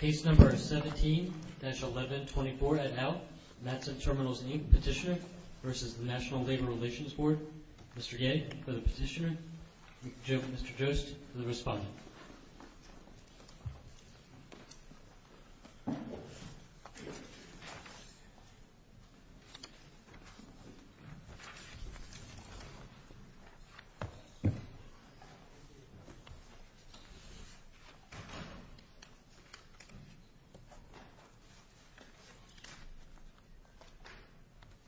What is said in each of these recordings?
Case number 17-1124 et al., Matson Terminals Inc. Petitioner v. National Labor Relations Board. Mr. Gay for the petitioner, Mr. Jost for the respondent. Mr. Gay for the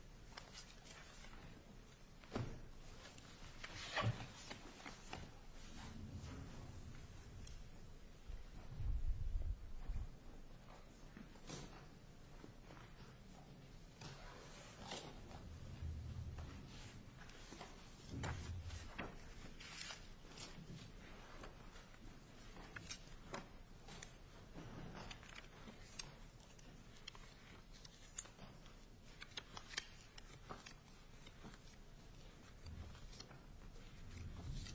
petitioner, Mr. Jost for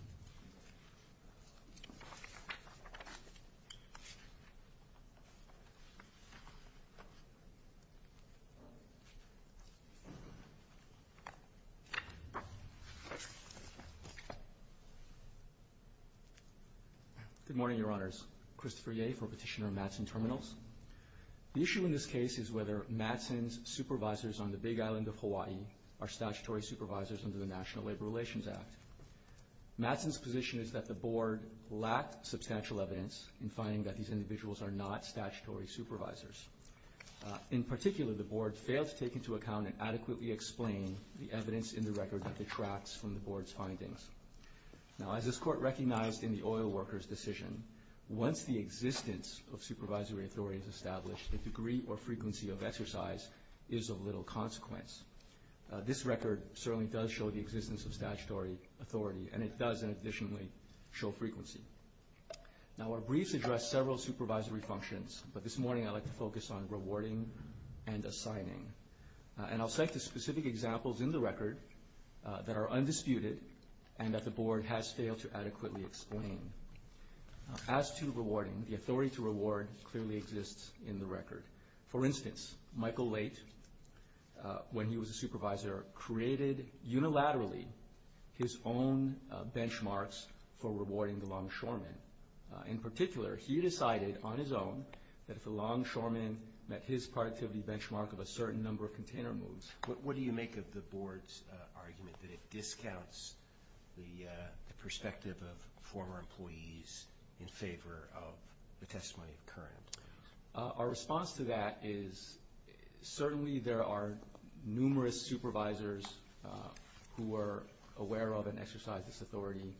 the respondent. Good morning, Your Honors. My name is Christopher Gay for Petitioner of Matson Terminals. The issue in this case is whether Matson's supervisors on the Big Island of Hawaii are statutory supervisors under the National Labor Relations Act. Matson's position is that the Board lacked substantial evidence in finding that these individuals are not statutory supervisors. In particular, the Board failed to take into account and adequately explain the evidence in the record that detracts from the Board's findings. Now, as this Court recognized in the oil workers' decision, once the existence of supervisory authority is established, the degree or frequency of exercise is of little consequence. This record certainly does show the existence of statutory authority, and it does, in addition, show frequency. Now, our briefs address several supervisory functions, but this morning I'd like to focus on rewarding and assigning. And I'll cite the specific examples in the record that are undisputed and that the Board has failed to adequately explain. As to rewarding, the authority to reward clearly exists in the record. For instance, Michael Late, when he was a supervisor, created unilaterally his own benchmarks for rewarding the longshoremen. In particular, he decided on his own that if a longshoreman met his productivity benchmark of a certain number of container moves, what do you make of the Board's argument that it discounts the perspective of former employees in favor of the testimony of current? Our response to that is certainly there are numerous supervisors who are aware of and exercise this authority,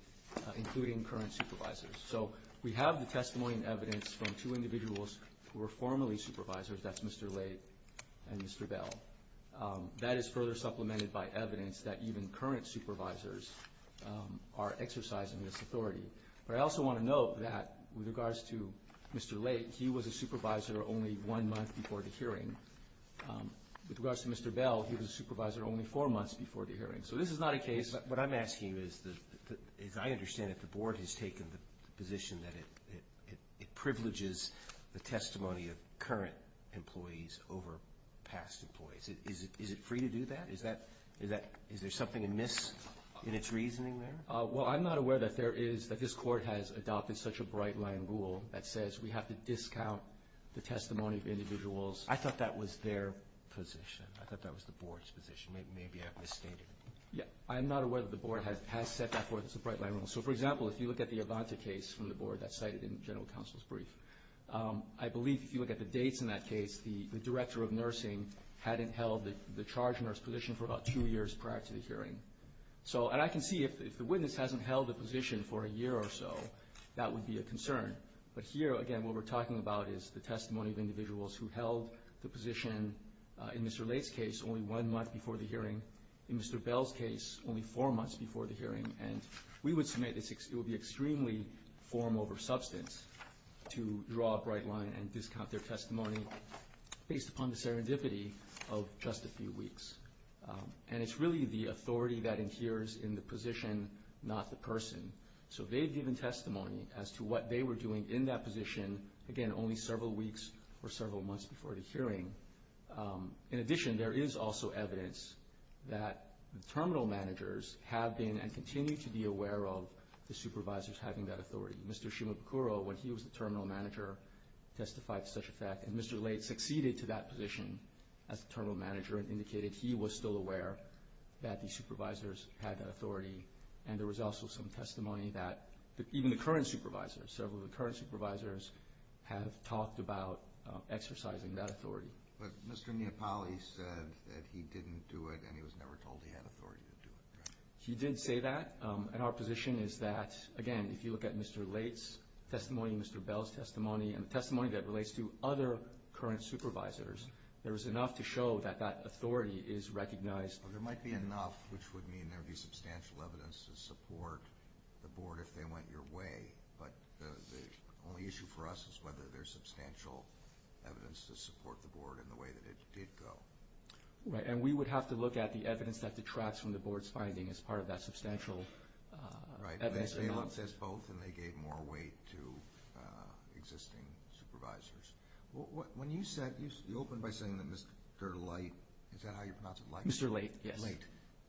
including current supervisors. So we have the testimony and evidence from two individuals who were formerly supervisors. That's Mr. Late and Mr. Bell. That is further supplemented by evidence that even current supervisors are exercising this authority. But I also want to note that with regards to Mr. Late, he was a supervisor only one month before the hearing. With regards to Mr. Bell, he was a supervisor only four months before the hearing. So this is not a case. What I'm asking is I understand that the Board has taken the position that it privileges the testimony of current employees over past employees. Is it free to do that? Is there something amiss in its reasoning there? Well, I'm not aware that there is, that this Court has adopted such a bright-line rule that says we have to discount the testimony of individuals. I thought that was their position. I thought that was the Board's position. Maybe I've misstated it. Yeah, I'm not aware that the Board has set that forth as a bright-line rule. So, for example, if you look at the Avanta case from the Board that's cited in General Counsel's brief, I believe if you look at the dates in that case, the director of nursing hadn't held the charge nurse position for about two years prior to the hearing. And I can see if the witness hasn't held the position for a year or so, that would be a concern. But here, again, what we're talking about is the testimony of individuals who held the position in Mr. Late's case only one month before the hearing, in Mr. Bell's case only four months before the hearing. And we would submit it would be extremely form over substance to draw a bright line and discount their testimony based upon the serendipity of just a few weeks. And it's really the authority that adheres in the position, not the person. So they've given testimony as to what they were doing in that position, again, only several weeks or several months before the hearing. In addition, there is also evidence that the terminal managers have been and continue to be aware of the supervisors having that authority. Mr. Shimabukuro, when he was the terminal manager, testified to such a fact. And Mr. Late succeeded to that position as terminal manager and indicated he was still aware that the supervisors had that authority. And there was also some testimony that even the current supervisors, several of the current supervisors have talked about exercising that authority. But Mr. Napoli said that he didn't do it and he was never told he had authority to do it. He did say that. And our position is that, again, if you look at Mr. Late's testimony, Mr. Bell's testimony, and the testimony that relates to other current supervisors, there is enough to show that that authority is recognized. Well, there might be enough, which would mean there would be substantial evidence to support the board if they went your way. But the only issue for us is whether there's substantial evidence to support the board in the way that it did go. Right, and we would have to look at the evidence that detracts from the board's finding as part of that substantial evidence. Right, and they say it's both, and they gave more weight to existing supervisors. When you said, you opened by saying that Mr. Late, is that how you pronounce it, Late? Mr. Late, yes. Late,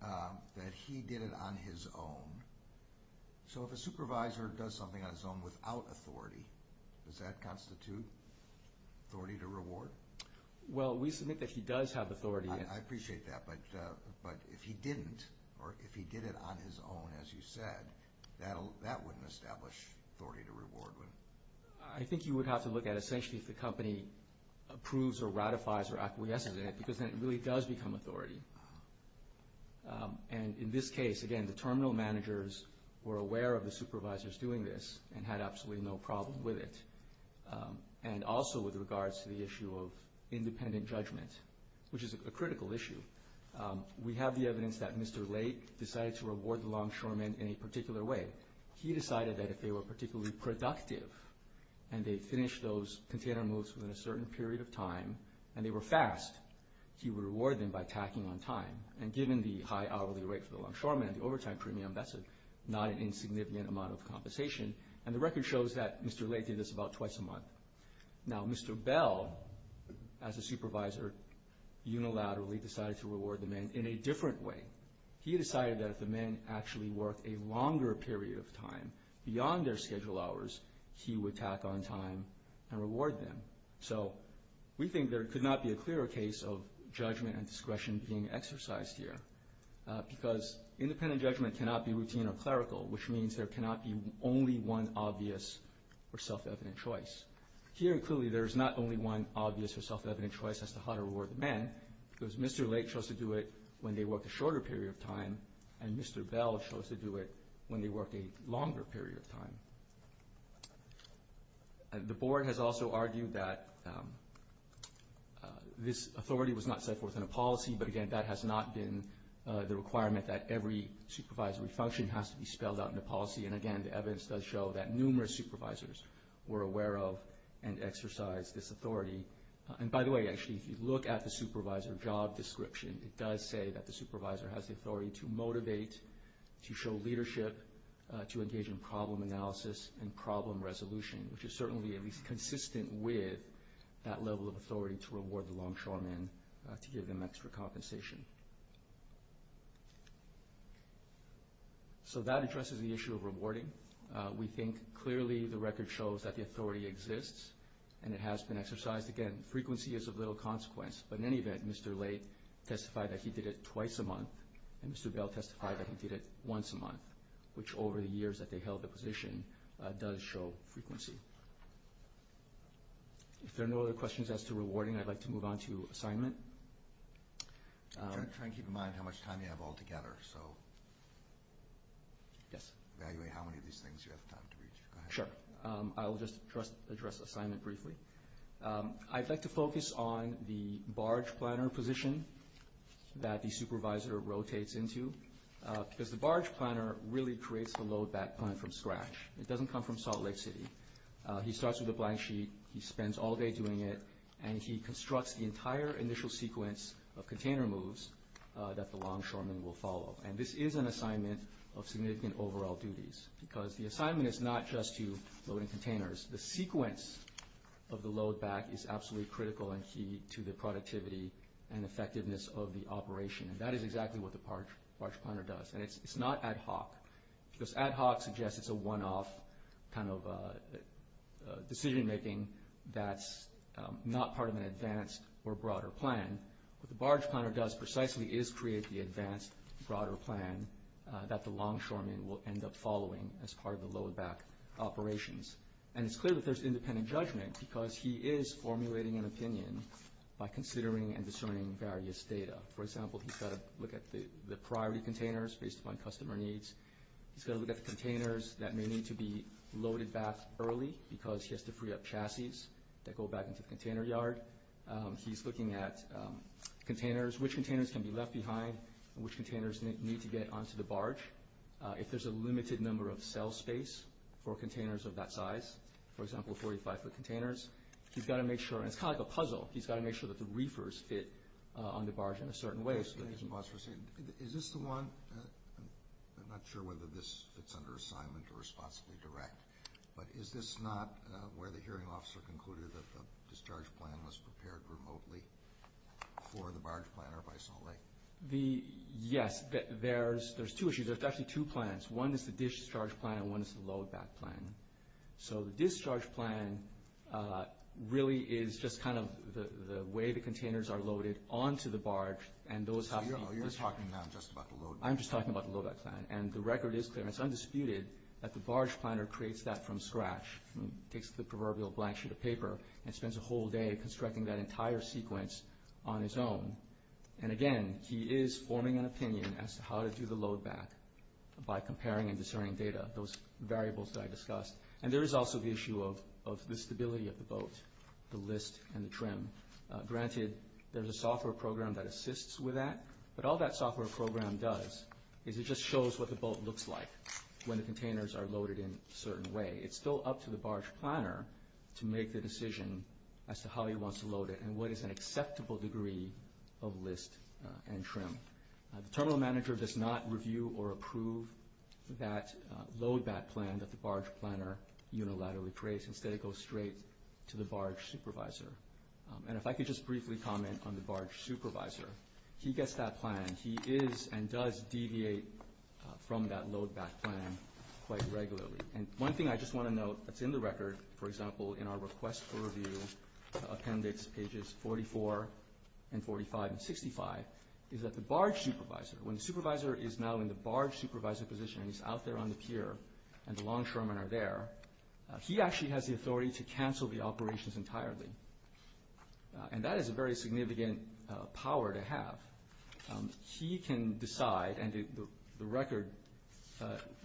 that he did it on his own. So if a supervisor does something on his own without authority, does that constitute authority to reward? Well, we submit that he does have authority. I appreciate that, but if he didn't or if he did it on his own, as you said, that wouldn't establish authority to reward. I think you would have to look at essentially if the company approves or ratifies or acquiesces in it because then it really does become authority. And in this case, again, the terminal managers were aware of the supervisors doing this and had absolutely no problem with it. And also with regards to the issue of independent judgment, which is a critical issue, we have the evidence that Mr. Late decided to reward the longshoremen in a particular way. He decided that if they were particularly productive and they finished those container moves within a certain period of time and they were fast, he would reward them by tacking on time. And given the high hourly rate for the longshoremen and the overtime premium, that's not an insignificant amount of compensation. And the record shows that Mr. Late did this about twice a month. Now, Mr. Bell, as a supervisor, unilaterally decided to reward the men in a different way. He decided that if the men actually worked a longer period of time beyond their schedule hours, he would tack on time and reward them. So we think there could not be a clearer case of judgment and discretion being exercised here because independent judgment cannot be routine or clerical, which means there cannot be only one obvious or self-evident choice. Here, clearly, there is not only one obvious or self-evident choice as to how to reward the men because Mr. Late chose to do it when they worked a shorter period of time and Mr. Bell chose to do it when they worked a longer period of time. The board has also argued that this authority was not set forth in a policy, but, again, that has not been the requirement that every supervisory function has to be spelled out in a policy. And, again, the evidence does show that numerous supervisors were aware of and exercised this authority. And, by the way, actually, if you look at the supervisor job description, it does say that the supervisor has the authority to motivate, to show leadership, to engage in problem analysis and problem resolution, which is certainly at least consistent with that level of authority to reward the longshoremen to give them extra compensation. So that addresses the issue of rewarding. We think, clearly, the record shows that the authority exists and it has been exercised. Again, frequency is of little consequence. But, in any event, Mr. Late testified that he did it twice a month and Mr. Bell testified that he did it once a month, which, over the years that they held the position, does show frequency. If there are no other questions as to rewarding, I'd like to move on to assignment. Try and keep in mind how much time you have altogether. So, evaluate how many of these things you have time to reach. Go ahead. Sure. I will just address assignment briefly. I'd like to focus on the barge planner position that the supervisor rotates into, because the barge planner really creates the load back plan from scratch. It doesn't come from Salt Lake City. He starts with a blank sheet. He spends all day doing it. And he constructs the entire initial sequence of container moves that the longshoremen will follow. And this is an assignment of significant overall duties, because the assignment is not just to load in containers. The sequence of the load back is absolutely critical and key to the productivity and effectiveness of the operation. And that is exactly what the barge planner does. And it's not ad hoc, because ad hoc suggests it's a one-off kind of decision-making that's not part of an advanced or broader plan. What the barge planner does precisely is create the advanced, broader plan that the longshoremen will end up following as part of the load back operations. And it's clear that there's independent judgment, because he is formulating an opinion by considering and discerning various data. For example, he's got to look at the priority containers based upon customer needs. He's got to look at the containers that may need to be loaded back early, because he has to free up chassis that go back into the container yard. He's looking at containers, which containers can be left behind and which containers need to get onto the barge. If there's a limited number of cell space for containers of that size, for example, 45-foot containers, he's got to make sure, and it's kind of like a puzzle, he's got to make sure that the reefers fit on the barge in a certain way. Is this the one? I'm not sure whether this fits under assignment or responsibly direct. But is this not where the hearing officer concluded that the discharge plan was prepared remotely for the barge planner by Salt Lake? Yes. There's two issues. There's actually two plans. One is the discharge plan and one is the load back plan. So the discharge plan really is just kind of the way the containers are loaded onto the barge. So you're talking now just about the load back plan. I'm just talking about the load back plan. And the record is clear. It's undisputed that the barge planner creates that from scratch, takes the proverbial blank sheet of paper and spends a whole day constructing that entire sequence on his own. And, again, he is forming an opinion as to how to do the load back by comparing and discerning data, those variables that I discussed. And there is also the issue of the stability of the boat, the list and the trim. Granted, there's a software program that assists with that, but all that software program does is it just shows what the boat looks like when the containers are loaded in a certain way. It's still up to the barge planner to make the decision as to how he wants to load it and what is an acceptable degree of list and trim. The terminal manager does not review or approve that load back plan that the barge planner unilaterally creates. Instead, it goes straight to the barge supervisor. And if I could just briefly comment on the barge supervisor, he gets that plan, he is and does deviate from that load back plan quite regularly. And one thing I just want to note that's in the record, for example, in our request for review appendix, pages 44 and 45 and 65, is that the barge supervisor, when the supervisor is now in the barge supervisor position and he's out there on the pier and the longshoremen are there, he actually has the authority to cancel the operations entirely. And that is a very significant power to have. He can decide, and the record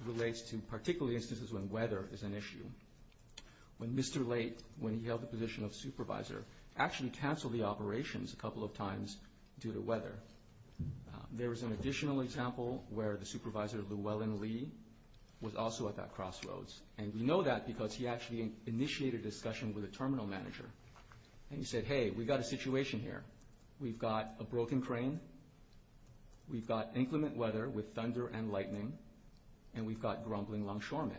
relates to particularly instances when weather is an issue, when Mr. Late, when he held the position of supervisor, actually canceled the operations a couple of times due to weather. There is an additional example where the supervisor, Llewellyn Lee, was also at that crossroads. And we know that because he actually initiated a discussion with a terminal manager. And he said, hey, we've got a situation here. We've got a broken crane. We've got inclement weather with thunder and lightning. And we've got grumbling longshoremen.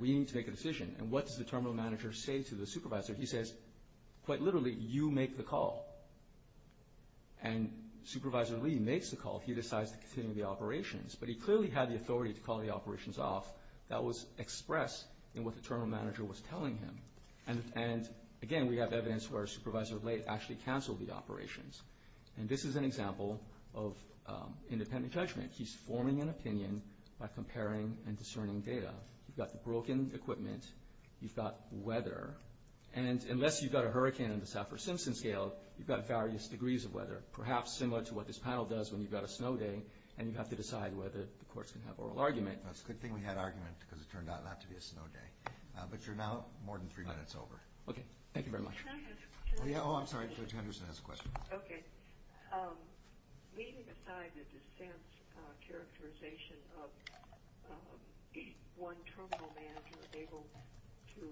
We need to make a decision. And what does the terminal manager say to the supervisor? He says, quite literally, you make the call. And Supervisor Lee makes the call. He decides to continue the operations. But he clearly had the authority to call the operations off. That was expressed in what the terminal manager was telling him. And, again, we have evidence where Supervisor Late actually canceled the operations. And this is an example of independent judgment. He's forming an opinion by comparing and discerning data. You've got the broken equipment. You've got weather. And unless you've got a hurricane on the Saffir-Simpson scale, you've got various degrees of weather, perhaps similar to what this panel does when you've got a snow day and you have to decide whether the courts can have oral argument. That's a good thing we had argument because it turned out not to be a snow day. But you're now more than three minutes over. Okay. Thank you very much. Oh, I'm sorry. Judge Henderson has a question. Okay. Leaving aside the dissent characterization of one terminal manager able to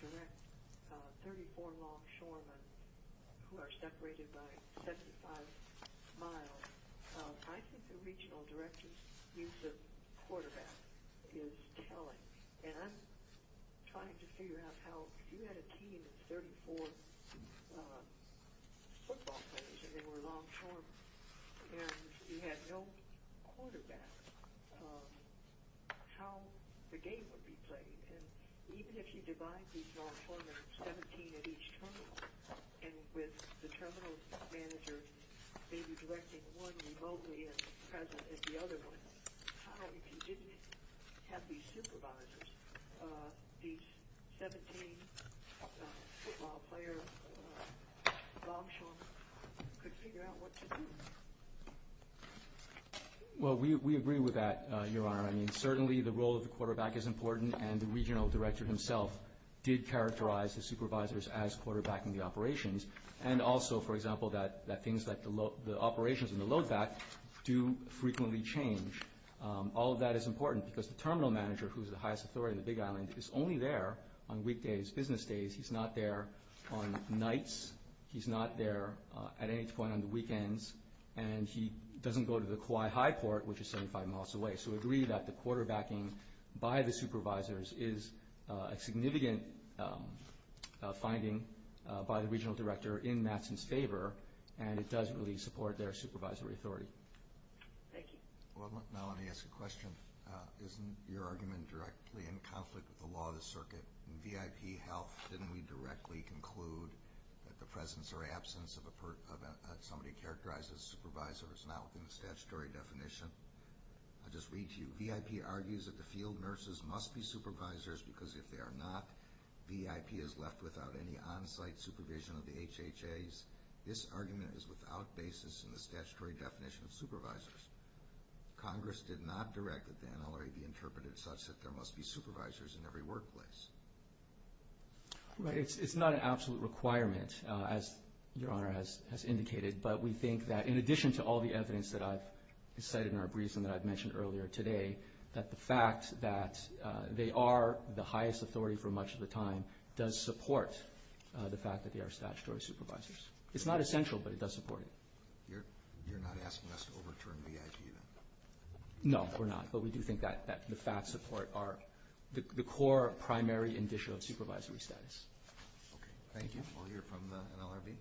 direct 34 longshoremen who are separated by 75 miles, I think the regional director's use of quarterback is telling. And I'm trying to figure out how if you had a team of 34 football players and they were longshoremen and you had no quarterback, how the game would be played. And even if you divide these longshoremen, 17 at each terminal, and with the terminal managers maybe directing one remotely and present at the other one, how if you didn't have these supervisors, these 17 football players, longshoremen, could figure out what to do? Well, we agree with that, Your Honor. I mean, certainly the role of the quarterback is important, and the regional director himself did characterize the supervisors as quarterbacking the operations. And also, for example, that things like the operations and the loadback do frequently change. All of that is important because the terminal manager, who is the highest authority on the Big Island, is only there on weekdays, business days. He's not there on nights. He's not there at any point on the weekends. And he doesn't go to the Kauai High Court, which is 75 miles away. So we agree that the quarterbacking by the supervisors is a significant finding by the regional director in Matson's favor, and it does really support their supervisory authority. Thank you. Well, now let me ask a question. Isn't your argument directly in conflict with the law of the circuit? In VIP health, didn't we directly conclude that the presence or absence of somebody characterized as supervisor is not within the statutory definition? I'll just read to you. VIP argues that the field nurses must be supervisors because if they are not, VIP is left without any on-site supervision of the HHAs. This argument is without basis in the statutory definition of supervisors. Congress did not direct that the NLRA be interpreted such that there must be supervisors in every workplace. Right. It's not an absolute requirement, as Your Honor has indicated. But we think that in addition to all the evidence that I've cited in our briefs and that I've mentioned earlier today, that the fact that they are the highest authority for much of the time does support the fact that they are statutory supervisors. It's not essential, but it does support it. You're not asking us to overturn VIP, then? No, we're not. But we do think that the facts support the core primary indicia of supervisory status. Okay, thank you. We'll hear from the NLRB.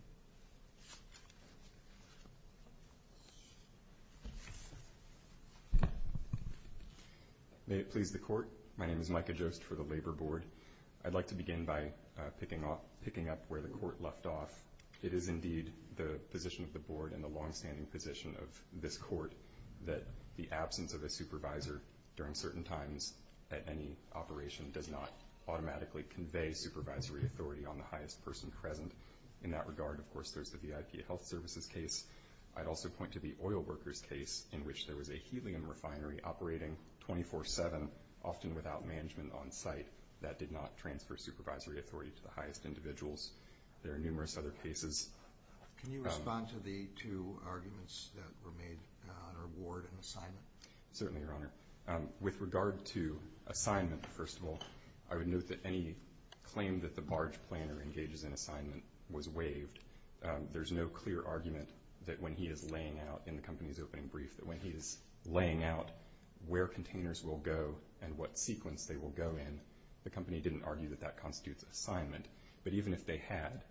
May it please the Court, my name is Micah Jost for the Labor Board. I'd like to begin by picking up where the Court left off. It is indeed the position of the Board and the longstanding position of this Court that the absence of a supervisor during certain times at any operation does not automatically convey supervisory authority on the highest person present. In that regard, of course, there's the VIP Health Services case. I'd also point to the oil workers case in which there was a helium refinery operating 24-7, often without management on site, that did not transfer supervisory authority to the highest individuals. There are numerous other cases. Can you respond to the two arguments that were made on award and assignment? Certainly, Your Honor. With regard to assignment, first of all, I would note that any claim that the barge planner engages in assignment was waived. There's no clear argument that when he is laying out, in the company's opening brief, that when he is laying out where containers will go and what sequence they will go in, the company didn't argue that that constitutes assignment. But even if they had...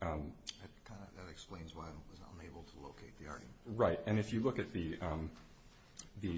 That explains why I was unable to locate the argument. Right, and if you look at the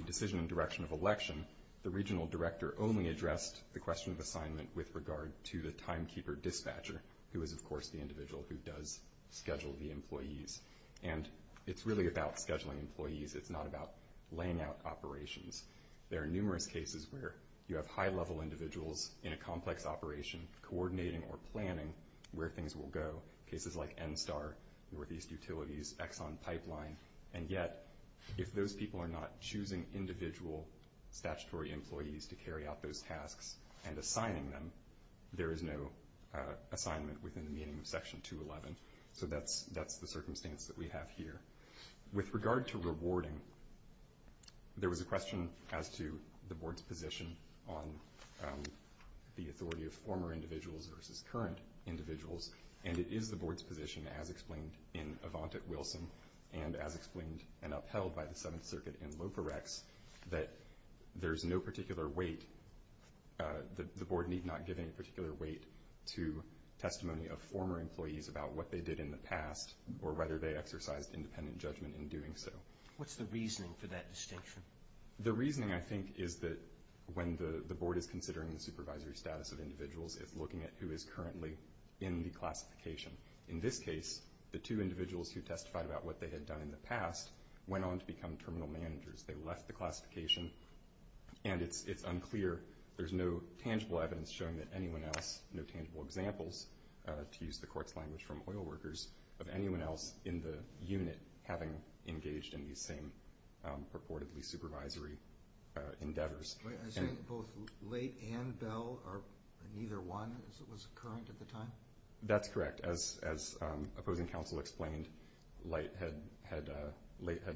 decision and direction of election, the regional director only addressed the question of assignment with regard to the timekeeper dispatcher, who is, of course, the individual who does schedule the employees. And it's really about scheduling employees. It's not about laying out operations. There are numerous cases where you have high-level individuals in a complex operation coordinating or planning where things will go. Cases like NSTAR, Northeast Utilities, Exxon Pipeline. And yet, if those people are not choosing individual statutory employees to carry out those tasks and assigning them, there is no assignment within the meaning of Section 211. So that's the circumstance that we have here. With regard to rewarding, there was a question as to the Board's position on the authority of former individuals versus current individuals. And it is the Board's position, as explained in Avantik-Wilson and as explained and upheld by the Seventh Circuit in Loporex, that there's no particular weight. The Board need not give any particular weight to testimony of former employees about what they did in the past or whether they exercised independent judgment in doing so. What's the reasoning for that distinction? The reasoning, I think, is that when the Board is considering the supervisory status of individuals, it's looking at who is currently in the classification. In this case, the two individuals who testified about what they had done in the past went on to become terminal managers. They left the classification, and it's unclear. There's no tangible evidence showing that anyone else, no tangible examples, to use the court's language from oil workers, of anyone else in the unit having engaged in these same purportedly supervisory endeavors. I say both Leight and Bell, or neither one, as it was current at the time? That's correct. As opposing counsel explained, Leight had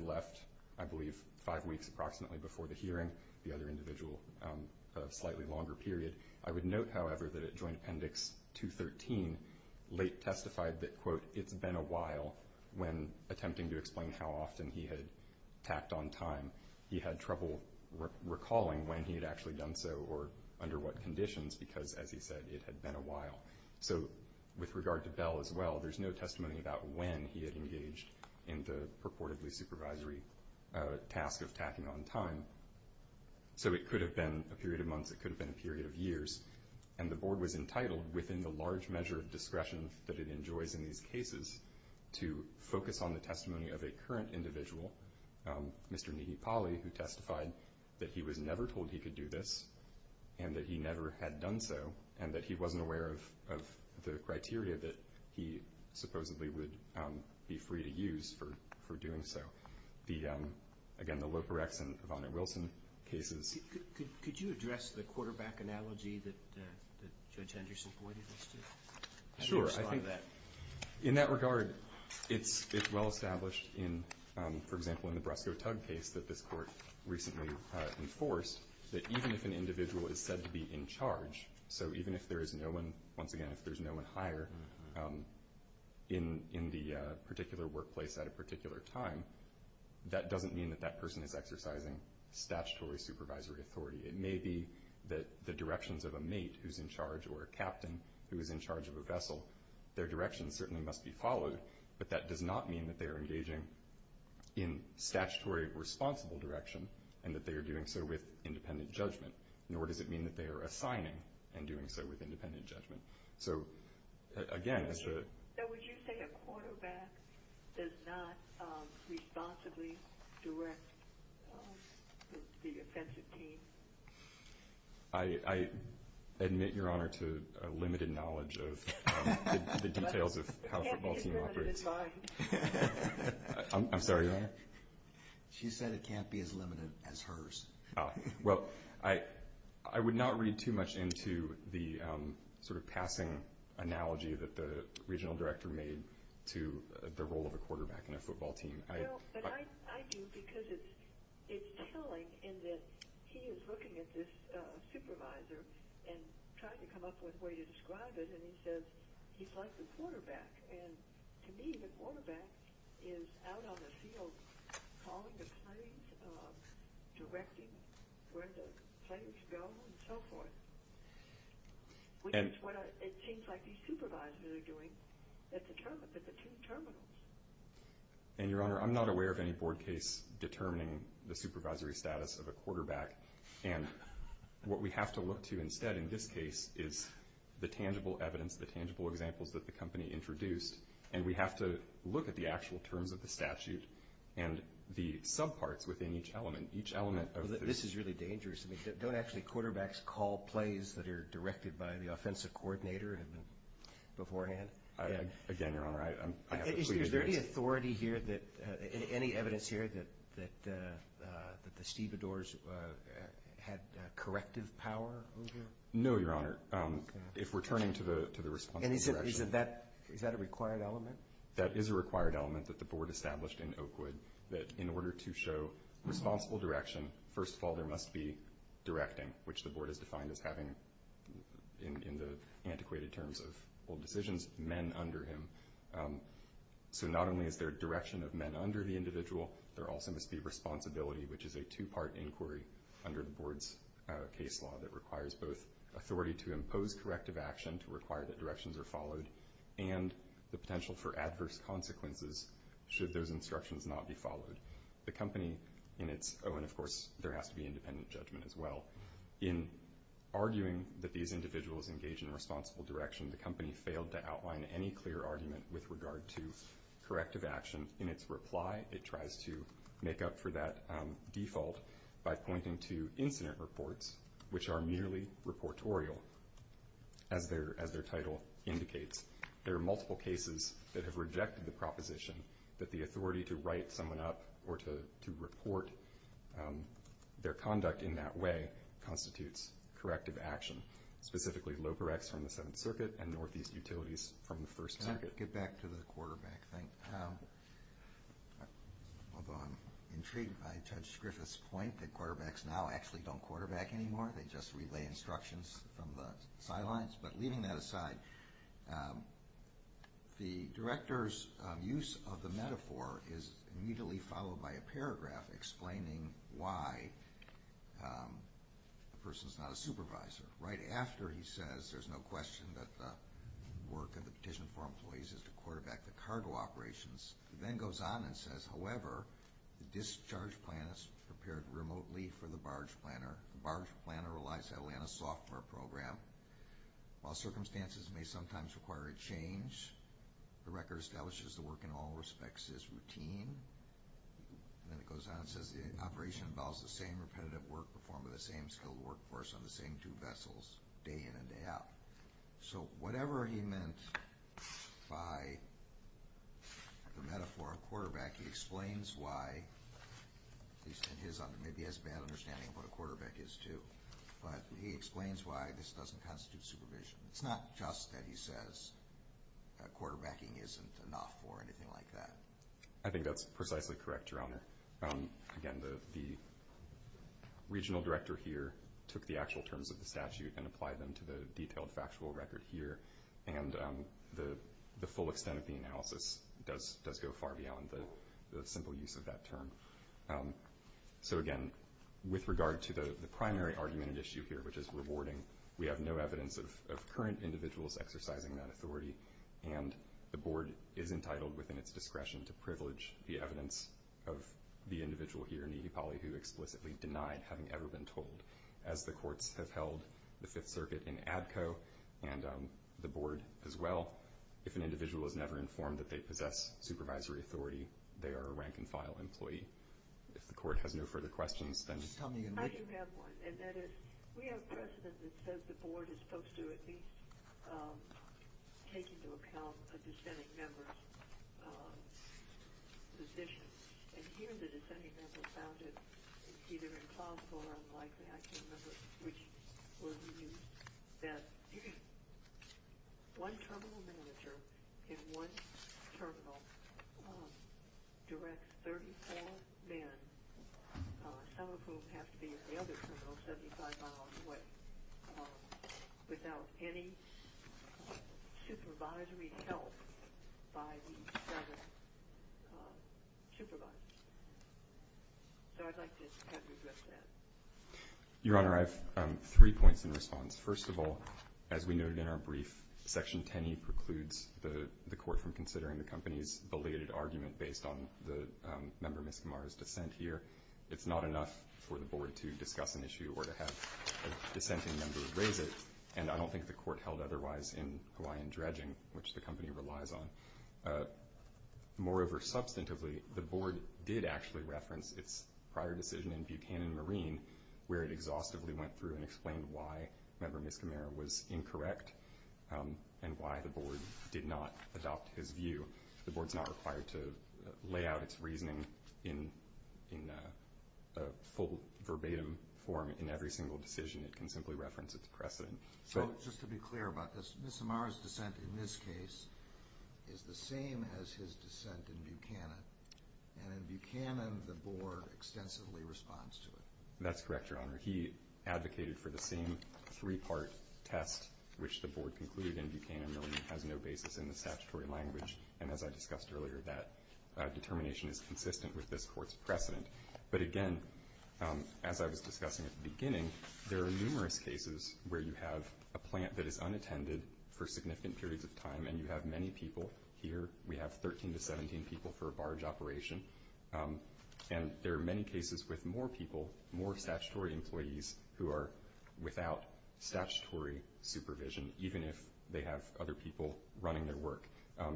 left, I believe, five weeks approximately before the hearing, the other individual a slightly longer period. I would note, however, that at Joint Appendix 213, Leight testified that, quote, it's been a while when, attempting to explain how often he had tacked on time, he had trouble recalling when he had actually done so or under what conditions because, as he said, it had been a while. So with regard to Bell as well, there's no testimony about when he had engaged in the purportedly supervisory task of tacking on time. So it could have been a period of months. It could have been a period of years. And the board was entitled, within the large measure of discretion that it enjoys in these cases, to focus on the testimony of a current individual, Mr. Nehe Pali, who testified that he was never told he could do this and that he never had done so and that he wasn't aware of the criteria that he supposedly would be free to use for doing so. Again, the Loporex and Evonne Wilson cases. Could you address the quarterback analogy that Judge Henderson pointed us to? Sure. How do you respond to that? In that regard, it's well established in, for example, in the Bresco Tug case that this court recently enforced that even if an individual is said to be in charge, so even if there is no one, once again, if there's no one higher in the particular workplace at a particular time, that doesn't mean that that person is exercising statutory supervisory authority. It may be that the directions of a mate who's in charge or a captain who is in charge of a vessel, their direction certainly must be followed, but that does not mean that they are engaging in statutory responsible direction and that they are doing so with independent judgment, nor does it mean that they are assigning and doing so with independent judgment. So, again, it's a... So would you say a quarterback does not responsibly direct the offensive team? I admit, Your Honor, to a limited knowledge of the details of how a football team operates. I'm sorry, Your Honor? She said it can't be as limited as hers. Well, I would not read too much into the sort of passing analogy that the regional director made to the role of a quarterback in a football team. No, but I do because it's telling in that he is looking at this supervisor and trying to come up with a way to describe it, and he says he's like the quarterback, and to me the quarterback is out on the field calling the plays, directing where the players go and so forth, which is what it seems like these supervisors are doing at the two terminals. And, Your Honor, I'm not aware of any board case determining the supervisory status of a quarterback, and what we have to look to instead in this case is the tangible evidence, the tangible examples that the company introduced, and we have to look at the actual terms of the statute and the subparts within each element. This is really dangerous. Don't actually quarterbacks call plays that are directed by the offensive coordinator beforehand? Again, Your Honor, I have to plead the case. Is there any authority here, any evidence here, that the Stevedores had corrective power over? No, Your Honor. If we're turning to the responsible direction. And is that a required element? That is a required element that the board established in Oakwood that in order to show responsible direction, first of all there must be directing, which the board has defined as having, in the antiquated terms of old decisions, men under him. So not only is there direction of men under the individual, there also must be responsibility, which is a two-part inquiry under the board's case law that requires both authority to impose corrective action to require that directions are followed and the potential for adverse consequences should those instructions not be followed. Oh, and of course there has to be independent judgment as well. In arguing that these individuals engage in responsible direction, the company failed to outline any clear argument with regard to corrective action. In its reply, it tries to make up for that default by pointing to incident reports, which are merely reportorial, as their title indicates. There are multiple cases that have rejected the proposition that the authority to write someone up or to report their conduct in that way constitutes corrective action, specifically locorex from the Seventh Circuit and Northeast Utilities from the First Circuit. Can I get back to the quarterback thing? Although I'm intrigued by Judge Griffith's point that quarterbacks now actually don't quarterback anymore, they just relay instructions from the sidelines. But leaving that aside, the director's use of the metaphor is immediately followed by a paragraph explaining why the person is not a supervisor. Right after he says there's no question that the work of the petition for employees is to quarterback the cargo operations, he then goes on and says, however, the discharge plan is prepared remotely for the barge planner. The barge planner relies heavily on a software program. While circumstances may sometimes require a change, the record establishes the work in all respects is routine. And then it goes on and says the operation involves the same repetitive work performed by the same skilled workforce on the same two vessels day in and day out. So whatever he meant by the metaphor of quarterback, he explains why, at least in his understanding, maybe he has a bad understanding of what a quarterback is too, but he explains why this doesn't constitute supervision. It's not just that he says quarterbacking isn't enough or anything like that. I think that's precisely correct, Your Honor. Again, the regional director here took the actual terms of the statute and applied them to the detailed factual record here, and the full extent of the analysis does go far beyond the simple use of that term. So again, with regard to the primary argument and issue here, which is rewarding, we have no evidence of current individuals exercising that authority, and the board is entitled within its discretion to privilege the evidence of the individual here, Nehepali, who explicitly denied having ever been told. As the courts have held the Fifth Circuit in ADCO and the board as well, if an individual is never informed that they possess supervisory authority, they are a rank-and-file employee. If the court has no further questions, then... I do have one, and that is, we have precedent that says the board is supposed to at least take into account a dissenting member's position, and here the dissenting member found it either impossible or unlikely. I can remember which was used, that one terminal manager in one terminal directs 34 men, some of whom have to be in the other terminal 75 miles away, without any supervisory help by the seven supervisors. So I'd like to have you address that. Your Honor, I have three points in response. First of all, as we noted in our brief, Section 10E precludes the court from considering the company's belated argument based on the member Miskimara's dissent here. It's not enough for the board to discuss an issue or to have a dissenting member raise it, and I don't think the court held otherwise in Hawaiian dredging, which the company relies on. Moreover, substantively, the board did actually reference its prior decision in Buchanan Marine, where it exhaustively went through and explained why member Miskimara was incorrect. And why the board did not adopt his view. The board's not required to lay out its reasoning in full verbatim form in every single decision. It can simply reference its precedent. So just to be clear about this, Miskimara's dissent in this case is the same as his dissent in Buchanan, and in Buchanan, the board extensively responds to it. That's correct, Your Honor. He advocated for the same three-part test which the board concluded in Buchanan has no basis in the statutory language, and as I discussed earlier, that determination is consistent with this court's precedent. But again, as I was discussing at the beginning, there are numerous cases where you have a plant that is unattended for significant periods of time, and you have many people here. We have 13 to 17 people for a barge operation. And there are many cases with more people, more statutory employees, who are without statutory supervision, even if they have other people running their work.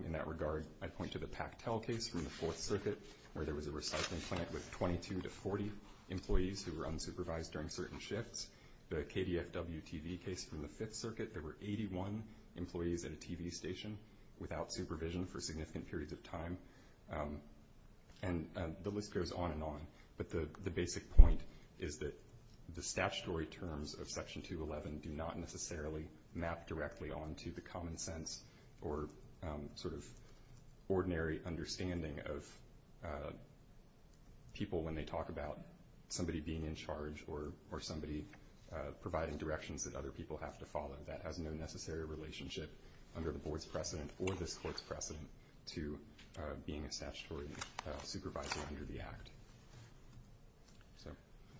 In that regard, I point to the Pactel case from the Fourth Circuit where there was a recycling plant with 22 to 40 employees who were unsupervised during certain shifts. The KDFW TV case from the Fifth Circuit, there were 81 employees at a TV station without supervision for significant periods of time. And the list goes on and on. But the basic point is that the statutory terms of Section 211 do not necessarily map directly onto the common sense or sort of ordinary understanding of people when they talk about somebody being in charge or somebody providing directions that other people have to follow. under the board's precedent or this court's precedent to being a statutory supervisor under the Act.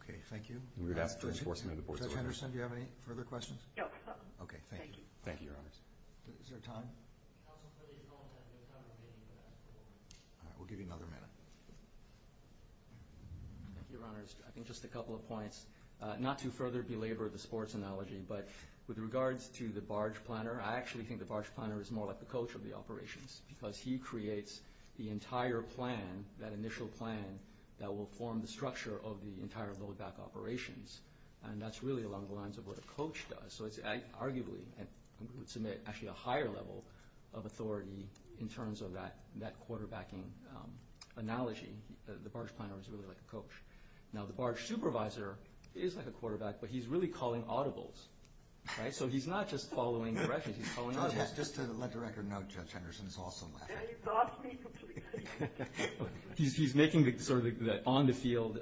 Okay, thank you. Judge Anderson, do you have any further questions? Okay, thank you. Thank you, Your Honors. Is there time? We'll give you another minute. Your Honors, I think just a couple of points. Not to further belabor the sports analogy, but with regards to the barge planner, I actually think the barge planner is more like the coach of the operations because he creates the entire plan, that initial plan that will form the structure of the entire loadback operations. And that's really along the lines of what a coach does. So it's arguably, I would submit, actually a higher level of authority in terms of that quarterbacking analogy. The barge planner is really like a coach. Now, the barge supervisor is like a quarterback, but he's really calling audibles, right? So he's not just following directions, he's calling audibles. Just to let the record note, Judge Anderson is also laughing. He brought me completely. He's making the sort of on-the-field,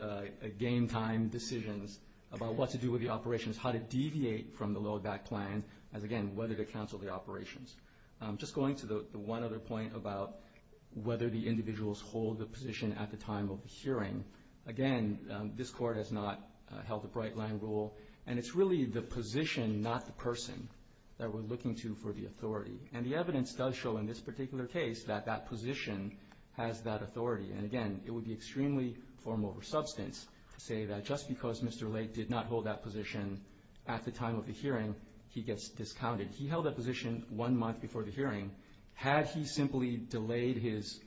game-time decisions about what to do with the operations, how to deviate from the loadback plan, as again, whether to cancel the operations. Just going to the one other point about whether the individuals hold the position at the time of the hearing, again, this Court has not held a bright-line rule, and it's really the position, not the person, that we're looking to for the authority. And the evidence does show in this particular case that that position has that authority. And again, it would be extremely form over substance to say that just because Mr. Lake did not hold that position at the time of the hearing, he gets discounted. He held that position one month before the hearing. Had he simply delayed his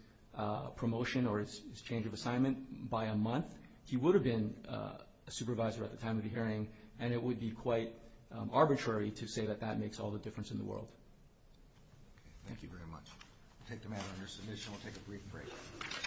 promotion or his change of assignment by a month, he would have been a supervisor at the time of the hearing, and it would be quite arbitrary to say that that makes all the difference in the world. Thank you very much. We'll take the matter under submission. We'll take a brief break.